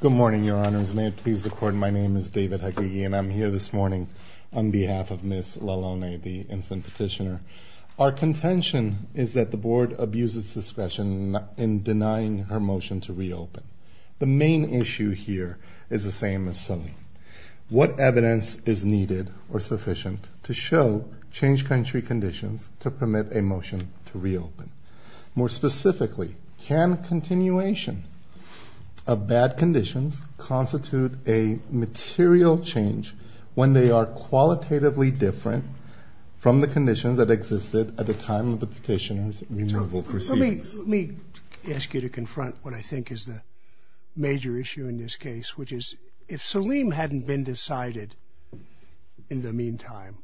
Good morning, Your Honors. May it please the Court, my name is David Hegege, and I'm here this morning on behalf of Ms. Lalone, the instant petitioner. Our contention is that the Board abuses discretion in denying her motion to reopen. The main issue here is the same as Selene. What evidence is needed or sufficient to show change country conditions to permit a motion to reopen? More specifically, can continuation of bad conditions constitute a material change when they are qualitatively different from the conditions that existed at the time of the petitioner's removal proceedings? Let me ask you to confront what I think is the major issue in this case, which is if Selene hadn't been decided in the meantime,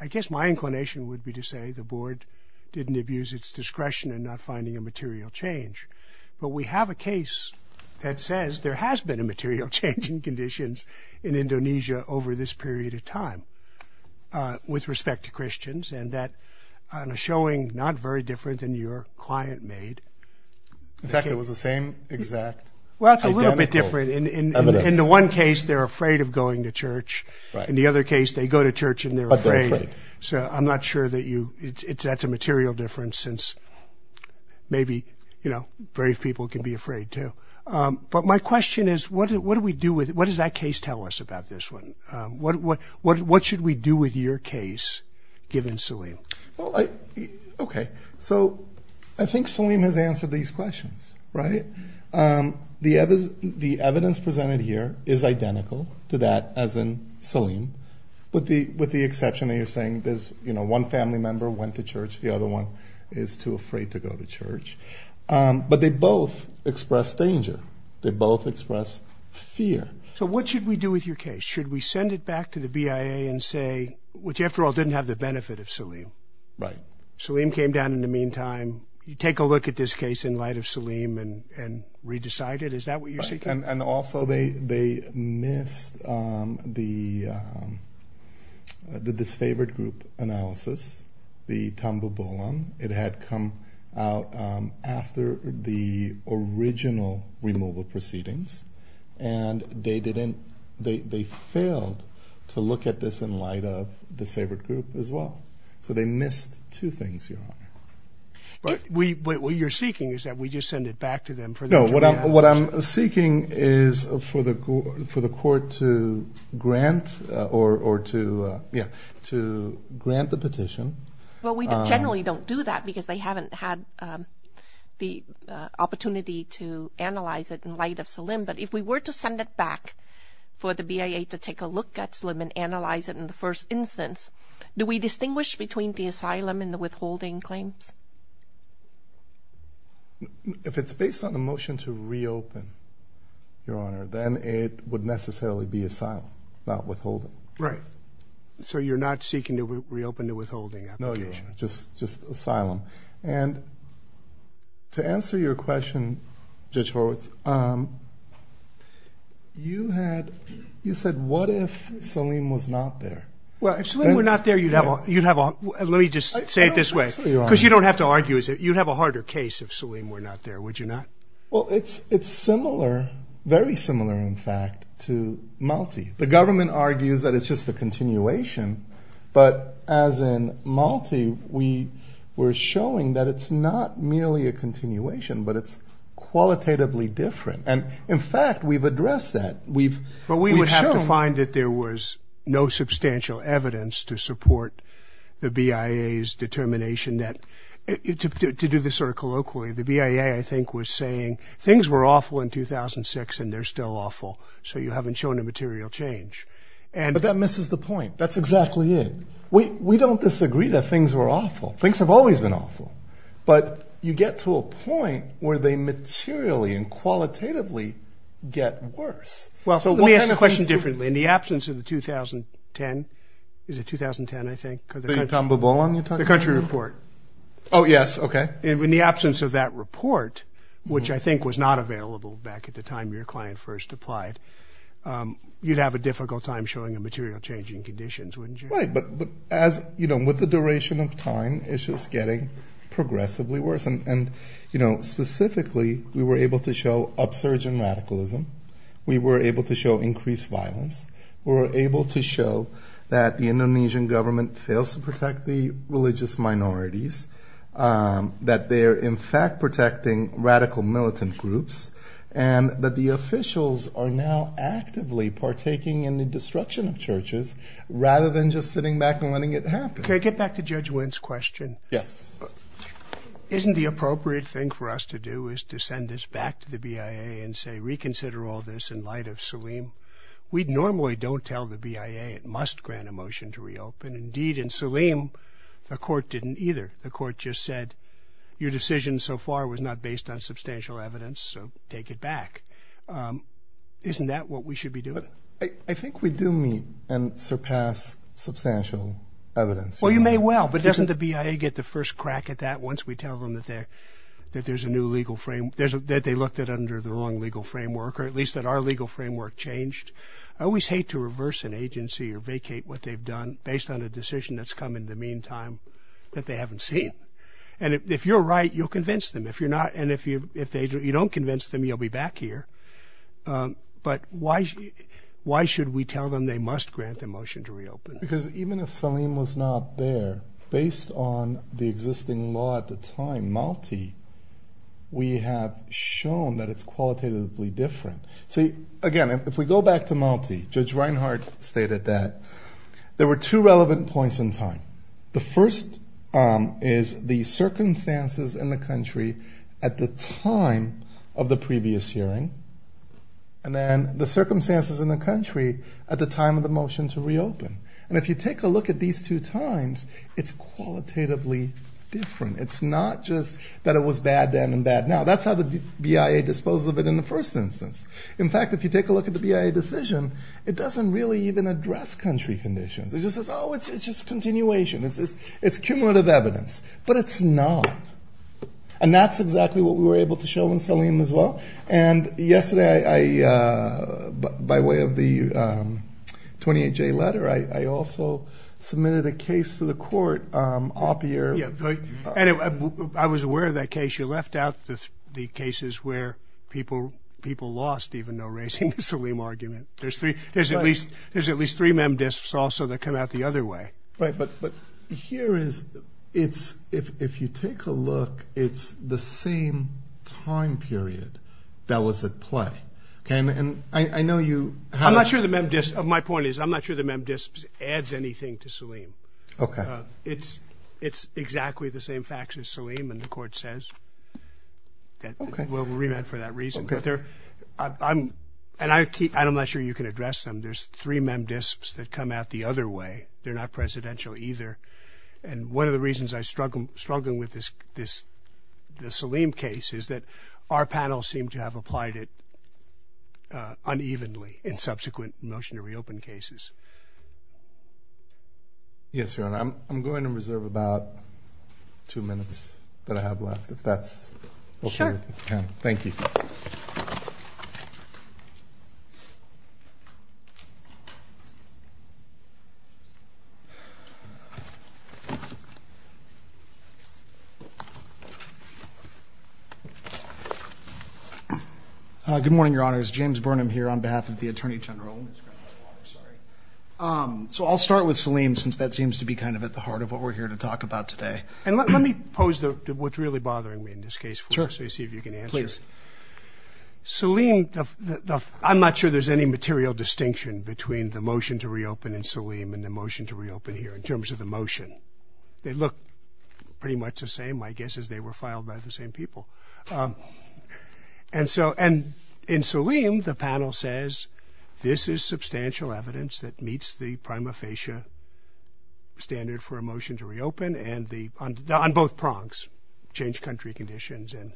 I guess my inclination would be to say the Board didn't abuse its discretion in not finding a material change. But we have a case that says there has been a material change in conditions in Indonesia over this period of time with respect to Christians, and that is showing not very different than your client made. In fact, it was the same exact identical evidence. Well, it's a little bit different. In the one case, they're afraid of going to church. In the other case, they go to church and they're afraid. So I'm not sure that that's a material difference since maybe brave people can be afraid, too. But my question is what do we do with it? What does that case tell us about this one? What should we do with your case given Selene? Okay, so I think Selene has answered these questions, right? The evidence presented here is identical to that as in Selene, with the exception that you're saying there's one family member went to church, the other one is too afraid to go to church. But they both express danger. They both express fear. So what should we do with your case? Should we send it back to the BIA and say, which after all didn't have the benefit of Selene? Right. Selene came down in the meantime. You take a look at this case in light of Selene and re-decide it. Is that what you're seeking? And also they missed the disfavored group analysis, the tambulbulam. It had come out after the original removal proceedings. And they failed to look at this in light of this favored group as well. So they missed two things, Your Honor. What you're seeking is that we just send it back to them for them to re-analyze. No, what I'm seeking is for the court to grant or to grant the petition. Well, we generally don't do that because they haven't had the opportunity to analyze it in light of Selene. But if we were to send it back for the BIA to take a look at Selene and analyze it in the first instance, do we distinguish between the asylum and the withholding claims? If it's based on a motion to reopen, Your Honor, then it would necessarily be asylum, not withholding. Right. So you're not seeking to reopen the withholding application? No, Your Honor, just asylum. And to answer your question, Judge Horowitz, you said what if Selene was not there? Well, if Selene were not there, you'd have a – let me just say it this way. Because you don't have to argue. You'd have a harder case if Selene were not there, would you not? Well, it's similar, very similar in fact, to Malti. The government argues that it's just a continuation. But as in Malti, we're showing that it's not merely a continuation, but it's qualitatively different. And, in fact, we've addressed that. But we would have to find that there was no substantial evidence to support the BIA's determination that – to do this sort of colloquially, the BIA, I think, was saying things were awful in 2006 and they're still awful, so you haven't shown a material change. But that misses the point. That's exactly it. We don't disagree that things were awful. Things have always been awful. But you get to a point where they materially and qualitatively get worse. Well, so let me ask the question differently. In the absence of the 2010 – is it 2010, I think? The country report. Oh, yes. Okay. In the absence of that report, which I think was not available back at the time your client first applied, you'd have a difficult time showing a material change in conditions, wouldn't you? Right. But as – you know, with the duration of time, it's just getting progressively worse. And, you know, specifically, we were able to show upsurge in radicalism. We were able to show increased violence. We were able to show that the Indonesian government fails to protect the religious minorities, that they're, in fact, protecting radical militant groups, and that the officials are now actively partaking in the destruction of churches rather than just sitting back and letting it happen. Can I get back to Judge Wynn's question? Yes. Isn't the appropriate thing for us to do is to send this back to the BIA and say, reconsider all this in light of Saleem? And, indeed, in Saleem, the court didn't either. The court just said, your decision so far was not based on substantial evidence, so take it back. Isn't that what we should be doing? I think we do meet and surpass substantial evidence. Well, you may well. But doesn't the BIA get the first crack at that once we tell them that there's a new legal frame – that they looked at under the wrong legal framework, or at least that our legal framework changed? I always hate to reverse an agency or vacate what they've done based on a decision that's come in the meantime that they haven't seen. And if you're right, you'll convince them. If you're not, and if you don't convince them, you'll be back here. But why should we tell them they must grant the motion to reopen? Because even if Saleem was not there, based on the existing law at the time, Malti, we have shown that it's qualitatively different. See, again, if we go back to Malti, Judge Reinhart stated that there were two relevant points in time. The first is the circumstances in the country at the time of the previous hearing, and then the circumstances in the country at the time of the motion to reopen. And if you take a look at these two times, it's qualitatively different. It's not just that it was bad then and bad now. That's how the BIA disposed of it in the first instance. In fact, if you take a look at the BIA decision, it doesn't really even address country conditions. It just says, oh, it's just continuation. It's cumulative evidence. But it's not. And that's exactly what we were able to show in Saleem as well. And yesterday, by way of the 28-J letter, I also submitted a case to the court. And I was aware of that case. You left out the cases where people lost even though raising the Saleem argument. There's at least three memdisps also that come out the other way. Right. But here, if you take a look, it's the same time period that was at play. And I know you have— I'm not sure the memdisps—my point is I'm not sure the memdisps adds anything to Saleem. Okay. It's exactly the same facts as Saleem, and the court says that we'll remand for that reason. Okay. And I'm not sure you can address them. There's three memdisps that come out the other way. They're not presidential either. And one of the reasons I struggle with this Saleem case is that our panel seemed to have applied it unevenly in subsequent motion to reopen cases. Yes, Your Honor. I'm going to reserve about two minutes that I have left, if that's okay with you. Sure. Thank you. Good morning, Your Honors. James Burnham here on behalf of the Attorney General. So I'll start with Saleem since that seems to be kind of at the heart of what we're here to talk about today. And let me pose what's really bothering me in this case for you so you see if you can answer it. Please. Saleem, I'm not sure there's any material distinction between the motion to reopen in Saleem and the motion to reopen here in terms of the motion. They look pretty much the same, I guess, as they were filed by the same people. And so in Saleem, the panel says this is substantial evidence that meets the prima facie standard for a motion to reopen on both prongs, change country conditions and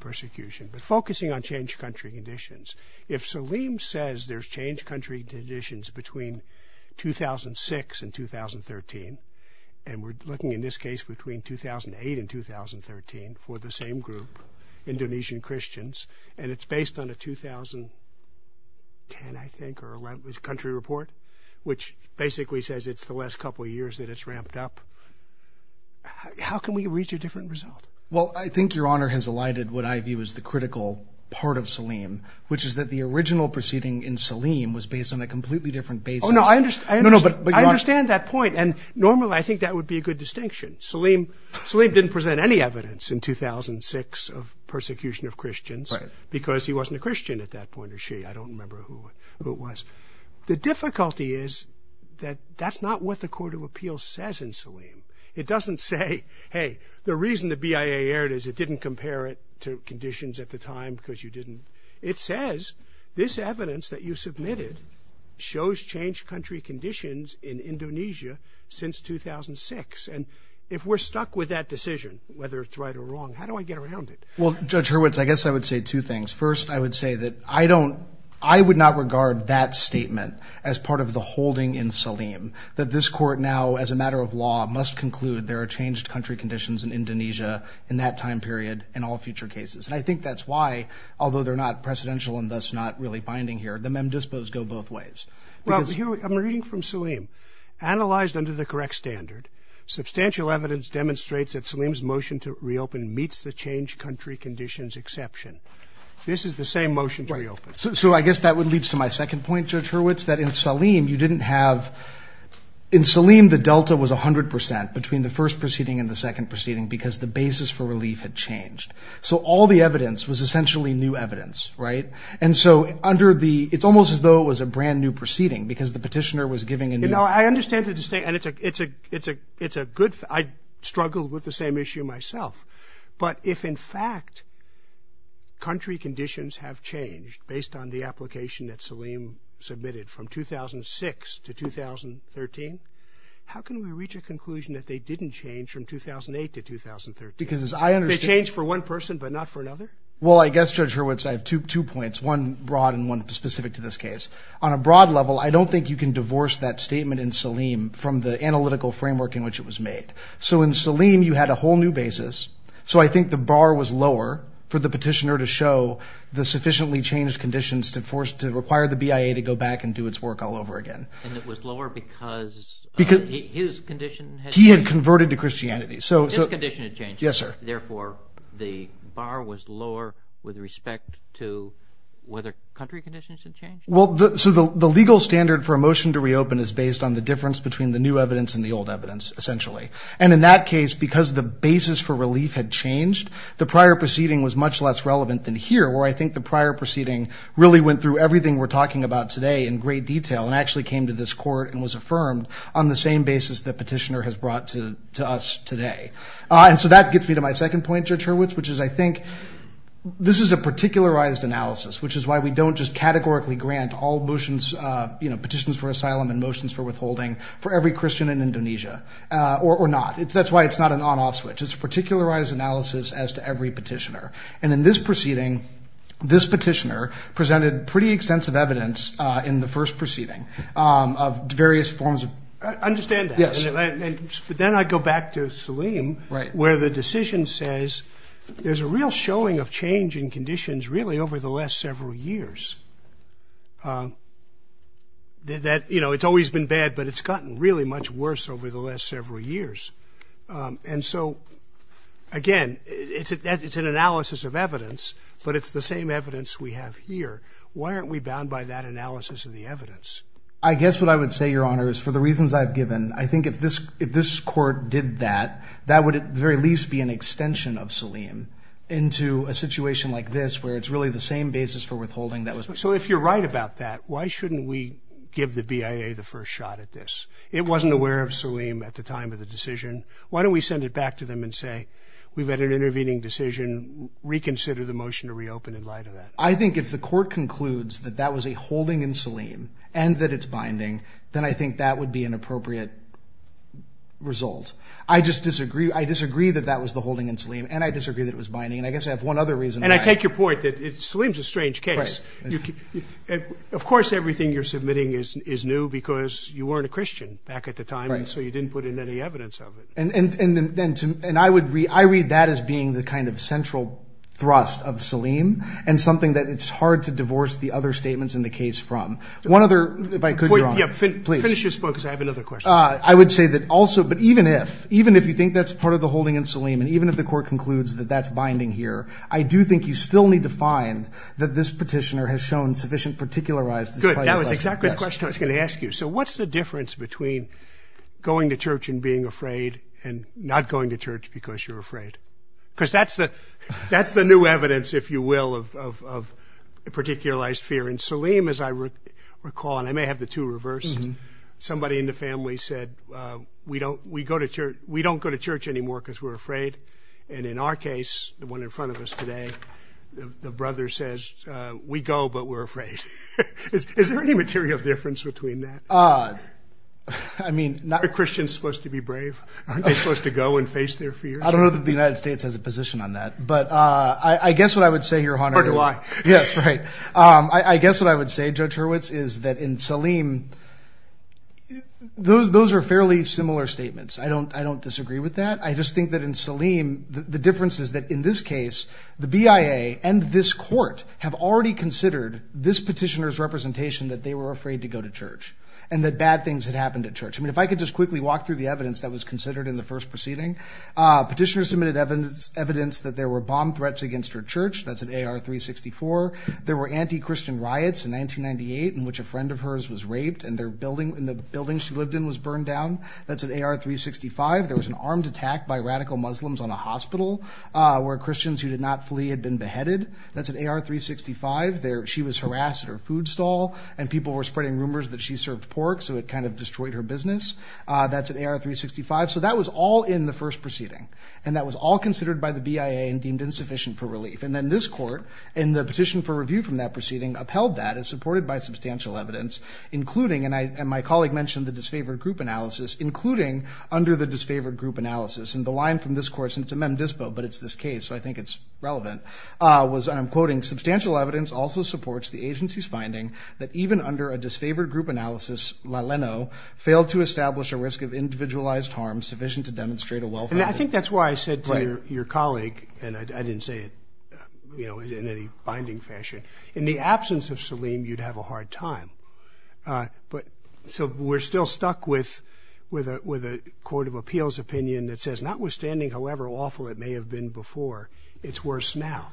persecution. But focusing on change country conditions, if Saleem says there's change country conditions between 2006 and 2013, and we're looking in this case between 2008 and 2013 for the same group, Indonesian Christians, and it's based on a 2010, I think, or a country report, which basically says it's the last couple of years that it's ramped up, how can we reach a different result? Well, I think Your Honor has elided what I view as the critical part of Saleem, which is that the original proceeding in Saleem was based on a completely different basis. Oh, no, I understand that point. And normally I think that would be a good distinction. Saleem didn't present any evidence in 2006 of persecution of Christians because he wasn't a Christian at that point, or she. I don't remember who it was. The difficulty is that that's not what the court of appeals says in Saleem. It doesn't say, hey, the reason the BIA aired it is it didn't compare it to conditions at the time because you didn't. It says this evidence that you submitted shows change country conditions in Indonesia since 2006. And if we're stuck with that decision, whether it's right or wrong, how do I get around it? Well, Judge Hurwitz, I guess I would say two things. First, I would say that I don't ‑‑ I would not regard that statement as part of the holding in Saleem, that this court now as a matter of law must conclude there are changed country conditions in Indonesia in that time period in all future cases. And I think that's why, although they're not precedential and thus not really binding here, the mem dispos go both ways. Well, I'm reading from Saleem. Analyzed under the correct standard, substantial evidence demonstrates that Saleem's motion to reopen meets the changed country conditions exception. This is the same motion to reopen. So I guess that leads to my second point, Judge Hurwitz, that in Saleem you didn't have ‑‑ in Saleem the delta was 100% between the first proceeding and the second proceeding because the basis for relief had changed. So all the evidence was essentially new evidence. Right? And so under the ‑‑ it's almost as though it was a brand new proceeding because the petitioner was giving a new ‑‑ You know, I understand the distinction. And it's a good ‑‑ I struggled with the same issue myself. But if in fact country conditions have changed based on the application that Saleem submitted from 2006 to 2013, how can we reach a conclusion that they didn't change from 2008 to 2013? Because as I understand ‑‑ They changed for one person but not for another? Well, I guess, Judge Hurwitz, I have two points, one broad and one specific to this case. On a broad level, I don't think you can divorce that statement in Saleem from the analytical framework in which it was made. So in Saleem you had a whole new basis. So I think the bar was lower for the petitioner to show the sufficiently changed conditions to force ‑‑ to require the BIA to go back and do its work all over again. And it was lower because his condition had changed? He had converted to Christianity. His condition had changed. Yes, sir. Therefore, the bar was lower with respect to whether country conditions had changed? Well, so the legal standard for a motion to reopen is based on the difference between the new evidence and the old evidence, essentially. And in that case, because the basis for relief had changed, the prior proceeding was much less relevant than here, where I think the prior proceeding really went through everything we're talking about today in great detail and actually came to this court and was affirmed on the same basis that petitioner has brought to us today. And so that gets me to my second point, Judge Hurwitz, which is I think this is a particularized analysis, which is why we don't just categorically grant all motions, you know, petitions for asylum and motions for withholding for every Christian in Indonesia or not. That's why it's not an on‑off switch. It's a particularized analysis as to every petitioner. And in this proceeding, this petitioner presented pretty extensive evidence in the first proceeding of various forms of ‑‑ I understand that. Yes. But then I go back to Salim. Right. Where the decision says there's a real showing of change in conditions really over the last several years. You know, it's always been bad, but it's gotten really much worse over the last several years. And so, again, it's an analysis of evidence, but it's the same evidence we have here. Why aren't we bound by that analysis of the evidence? I guess what I would say, Your Honor, is for the reasons I've given, I think if this court did that, that would at the very least be an extension of Salim into a situation like this where it's really the same basis for withholding. So if you're right about that, why shouldn't we give the BIA the first shot at this? It wasn't aware of Salim at the time of the decision. Why don't we send it back to them and say we've had an intervening decision. Reconsider the motion to reopen in light of that. I think if the court concludes that that was a holding in Salim and that it's binding, then I think that would be an appropriate result. I just disagree. I disagree that that was the holding in Salim, and I disagree that it was binding. And I guess I have one other reason. And I take your point that Salim's a strange case. Right. Of course everything you're submitting is new because you weren't a Christian back at the time. Right. And so you didn't put in any evidence of it. And I would read that as being the kind of central thrust of Salim and something that it's hard to divorce the other statements in the case from. One other, if I could, Your Honor, please. Finish your point because I have another question. I would say that also, but even if, even if you think that's part of the holding in Salim and even if the court concludes that that's binding here, I do think you still need to find that this petitioner has shown sufficient particularized. Good. That was exactly the question I was going to ask you. So what's the difference between going to church and being afraid and not going to church because you're afraid? Because that's the new evidence, if you will, of a particularized fear. And Salim, as I recall, and I may have the two reversed, somebody in the family said, we don't go to church anymore because we're afraid. And in our case, the one in front of us today, the brother says, we go, but we're afraid. Is there any material difference between that? I mean, not. Are Christians supposed to be brave? Aren't they supposed to go and face their fears? I don't know that the United States has a position on that. But I guess what I would say, Your Honor. Or do I? Yes, right. I guess what I would say, Judge Hurwitz, is that in Salim, those are fairly similar statements. I don't disagree with that. I just think that in Salim, the difference is that in this case, the BIA and this court have already considered this petitioner's representation that they were afraid to go to church and that bad things had happened at church. I mean, if I could just quickly walk through the evidence that was considered in the first proceeding. Petitioner submitted evidence that there were bomb threats against her church. That's in AR-364. There were anti-Christian riots in 1998 in which a friend of hers was raped and the building she lived in was burned down. That's in AR-365. There was an armed attack by radical Muslims on a hospital where Christians who did not flee had been beheaded. That's in AR-365. She was harassed at her food stall, and people were spreading rumors that she served pork, so it kind of destroyed her business. That's in AR-365. So that was all in the first proceeding. And that was all considered by the BIA and deemed insufficient for relief. And then this court, in the petition for review from that proceeding, upheld that as supported by substantial evidence, including, and my colleague mentioned the disfavored group analysis, including under the disfavored group analysis. And the line from this court, and it's a mem dispo, but it's this case, so I think it's relevant, was, and I'm quoting, substantial evidence also supports the agency's finding that even under a disfavored group analysis, LaLeno failed to establish a risk of individualized harm sufficient to demonstrate a welfare. And I think that's why I said to your colleague, and I didn't say it, you know, in any binding fashion, in the absence of Salim, you'd have a hard time. But so we're still stuck with a court of appeals opinion that says, notwithstanding however awful it may have been before, it's worse now.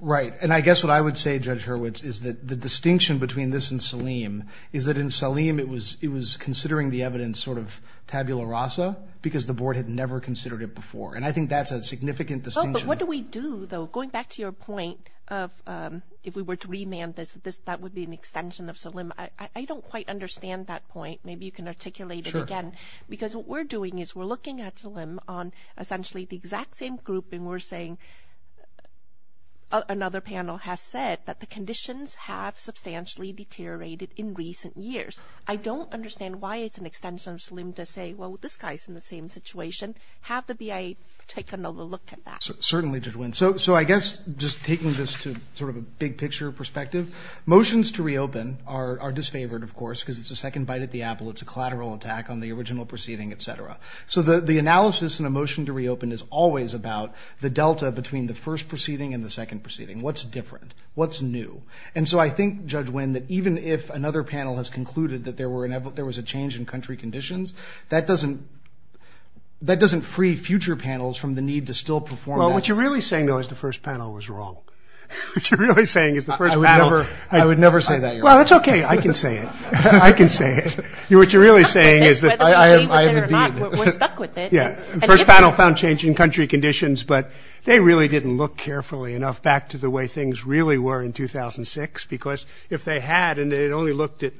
Right. And I guess what I would say, Judge Hurwitz, is that the distinction between this and Salim is that in Salim, it was considering the evidence sort of tabula rasa because the board had never considered it before. And I think that's a significant distinction. What do we do, though? Going back to your point of if we were to remand this, that would be an extension of Salim. I don't quite understand that point. Maybe you can articulate it again. Because what we're doing is we're looking at Salim on essentially the exact same group, and we're saying another panel has said that the conditions have substantially deteriorated in recent years. I don't understand why it's an extension of Salim to say, well, this guy's in the same situation. Have the BIA take another look at that. Certainly, Judge Wynn. So I guess just taking this to sort of a big picture perspective, motions to reopen are disfavored, of course, because it's a second bite at the apple. It's a collateral attack on the original proceeding, et cetera. So the analysis in a motion to reopen is always about the delta between the first proceeding and the second proceeding. What's different? What's new? And so I think, Judge Wynn, that even if another panel has concluded that there was a change in country conditions, that doesn't free future panels from the need to still perform that. Well, what you're really saying, though, is the first panel was wrong. What you're really saying is the first panel. I would never say that, Your Honor. Well, that's okay. I can say it. I can say it. What you're really saying is that I have a deed. We're stuck with it. Yeah. The first panel found change in country conditions, but they really didn't look carefully enough back to the way things really were in 2006. Because if they had and they had only looked at,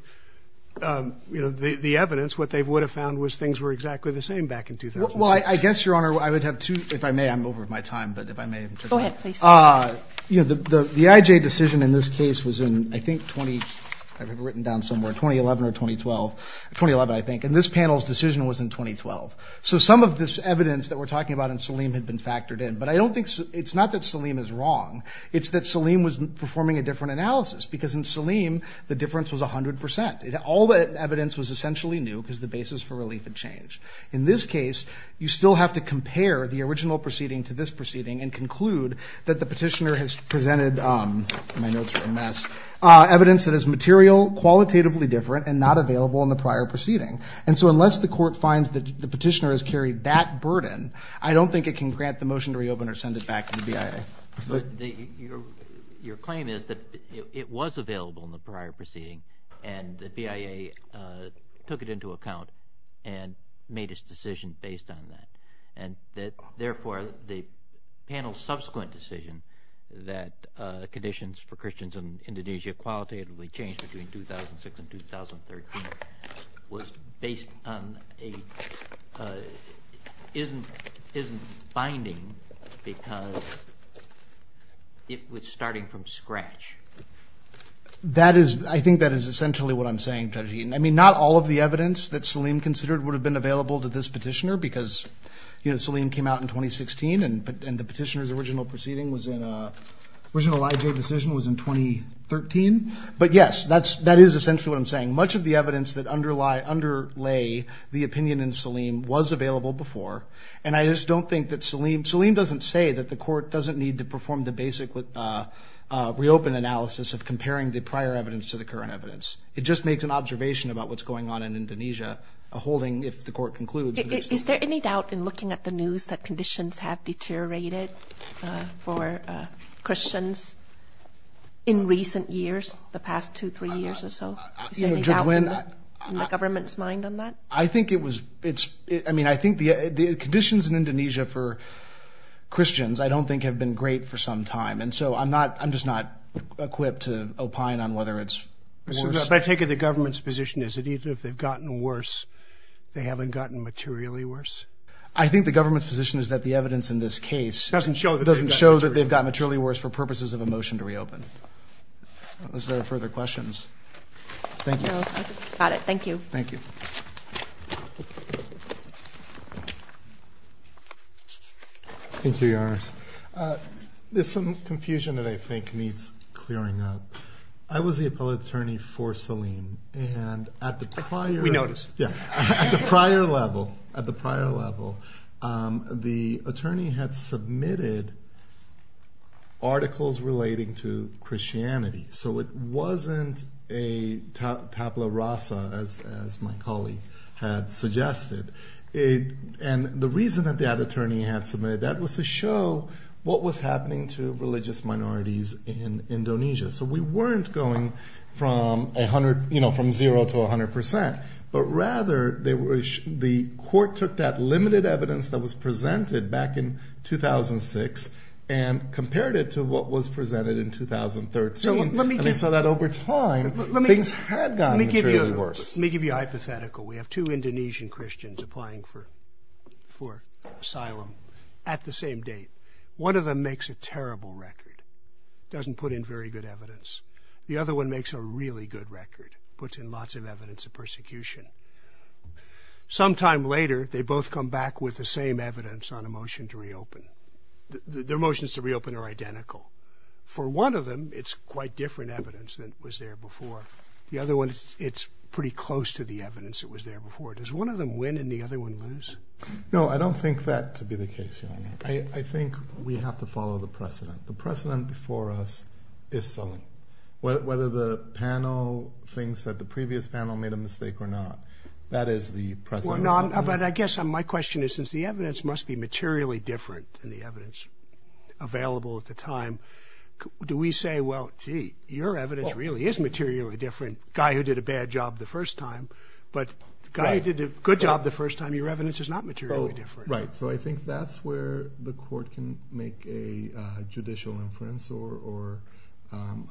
you know, the evidence, what they would have found was things were exactly the same back in 2006. Well, I guess, Your Honor, I would have two ‑‑ if I may, I'm over my time, but if I may interject. Go ahead, please. You know, the IJ decision in this case was in, I think, 20 ‑‑ I have it written down somewhere, 2011 or 2012. 2011, I think. And this panel's decision was in 2012. So some of this evidence that we're talking about in Saleem had been factored in. But I don't think ‑‑ it's not that Saleem is wrong. It's that Saleem was performing a different analysis. Because in Saleem, the difference was 100%. All the evidence was essentially new because the basis for relief had changed. In this case, you still have to compare the original proceeding to this proceeding and conclude that the petitioner has presented, my notes are a mess, evidence that is material, qualitatively different, and not available in the prior proceeding. And so unless the court finds that the petitioner has carried that burden, I don't think it can grant the motion to reopen or send it back to the BIA. But your claim is that it was available in the prior proceeding and the BIA took it into account and made its decision based on that. And therefore, the panel's subsequent decision that conditions for Christians in Indonesia qualitatively changed between 2006 and 2013 was based on a ‑‑ it was starting from scratch. That is ‑‑ I think that is essentially what I'm saying, Judge Eaton. I mean, not all of the evidence that Saleem considered would have been available to this petitioner because, you know, Saleem came out in 2016 and the petitioner's original proceeding was in a ‑‑ original IJ decision was in 2013. But, yes, that is essentially what I'm saying. Much of the evidence that underlay the opinion in Saleem was available before. And I just don't think that Saleem ‑‑ Saleem doesn't say that the court doesn't need to perform the basic reopen analysis of comparing the prior evidence to the current evidence. It just makes an observation about what's going on in Indonesia, holding if the court concludes that it's the ‑‑ Is there any doubt in looking at the news that conditions have deteriorated for Christians in recent years, the past two, three years or so? Is there any doubt in the government's mind on that? I think it was ‑‑ I mean, I think the conditions in Indonesia for Christians I don't think have been great for some time. And so I'm not ‑‑ I'm just not equipped to opine on whether it's worse. But I take it the government's position is that even if they've gotten worse, they haven't gotten materially worse? I think the government's position is that the evidence in this case doesn't show that they've gotten materially worse for purposes of a motion to reopen. Is there further questions? Thank you. No, I think we've got it. Thank you. Thank you. Thank you, Your Honors. There's some confusion that I think needs clearing up. I was the appellate attorney for Salim. And at the prior ‑‑ We noticed. Yeah. At the prior level, at the prior level, the attorney had submitted articles relating to Christianity. So it wasn't a tabla rasa, as my colleague had suggested. And the reason that the attorney had submitted that was to show what was happening to religious minorities in Indonesia. So we weren't going from a hundred, you know, from zero to a hundred percent. But rather, the court took that limited evidence that was presented back in 2006 and compared it to what was presented in 2013. And they saw that over time, things had gotten materially worse. Let me give you a hypothetical. We have two Indonesian Christians applying for asylum at the same date. One of them makes a terrible record, doesn't put in very good evidence. The other one makes a really good record, puts in lots of evidence of persecution. Sometime later, they both come back with the same evidence on a motion to reopen. Their motions to reopen are identical. For one of them, it's quite different evidence than was there before. The other one, it's pretty close to the evidence that was there before. Does one of them win and the other one lose? No, I don't think that to be the case, Your Honor. I think we have to follow the precedent. The precedent for us is selling. Whether the panel thinks that the previous panel made a mistake or not, that is the precedent. But I guess my question is, since the evidence must be materially different than the evidence available at the time, do we say, well, gee, your evidence really is materially different. Guy who did a bad job the first time, but guy who did a good job the first time, your evidence is not materially different. Right, so I think that's where the court can make a judicial inference or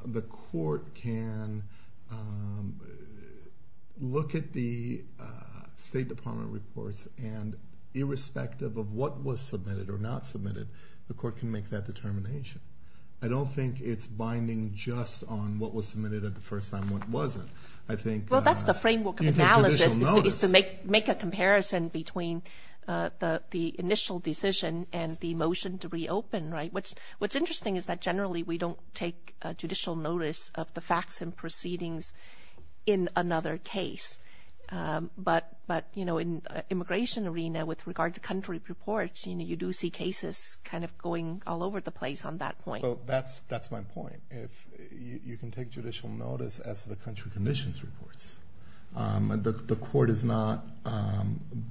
the court can look at the State Department reports and irrespective of what was submitted or not submitted, the court can make that determination. I don't think it's binding just on what was submitted at the first time and what wasn't. Well, that's the framework of analysis is to make a comparison between the initial decision and the motion to reopen. What's interesting is that generally we don't take judicial notice of the facts and proceedings in another case. But in the immigration arena, with regard to country reports, you do see cases kind of going all over the place on that point. That's my point. You can take judicial notice as the country conditions reports. The court is not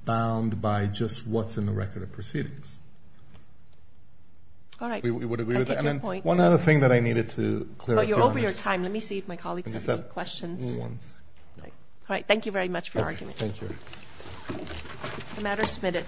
bound by just what's in the record of proceedings. All right, I take your point. One other thing that I needed to clarify. You're over your time. Let me see if my colleagues have any questions. All right, thank you very much for your argument. Thank you.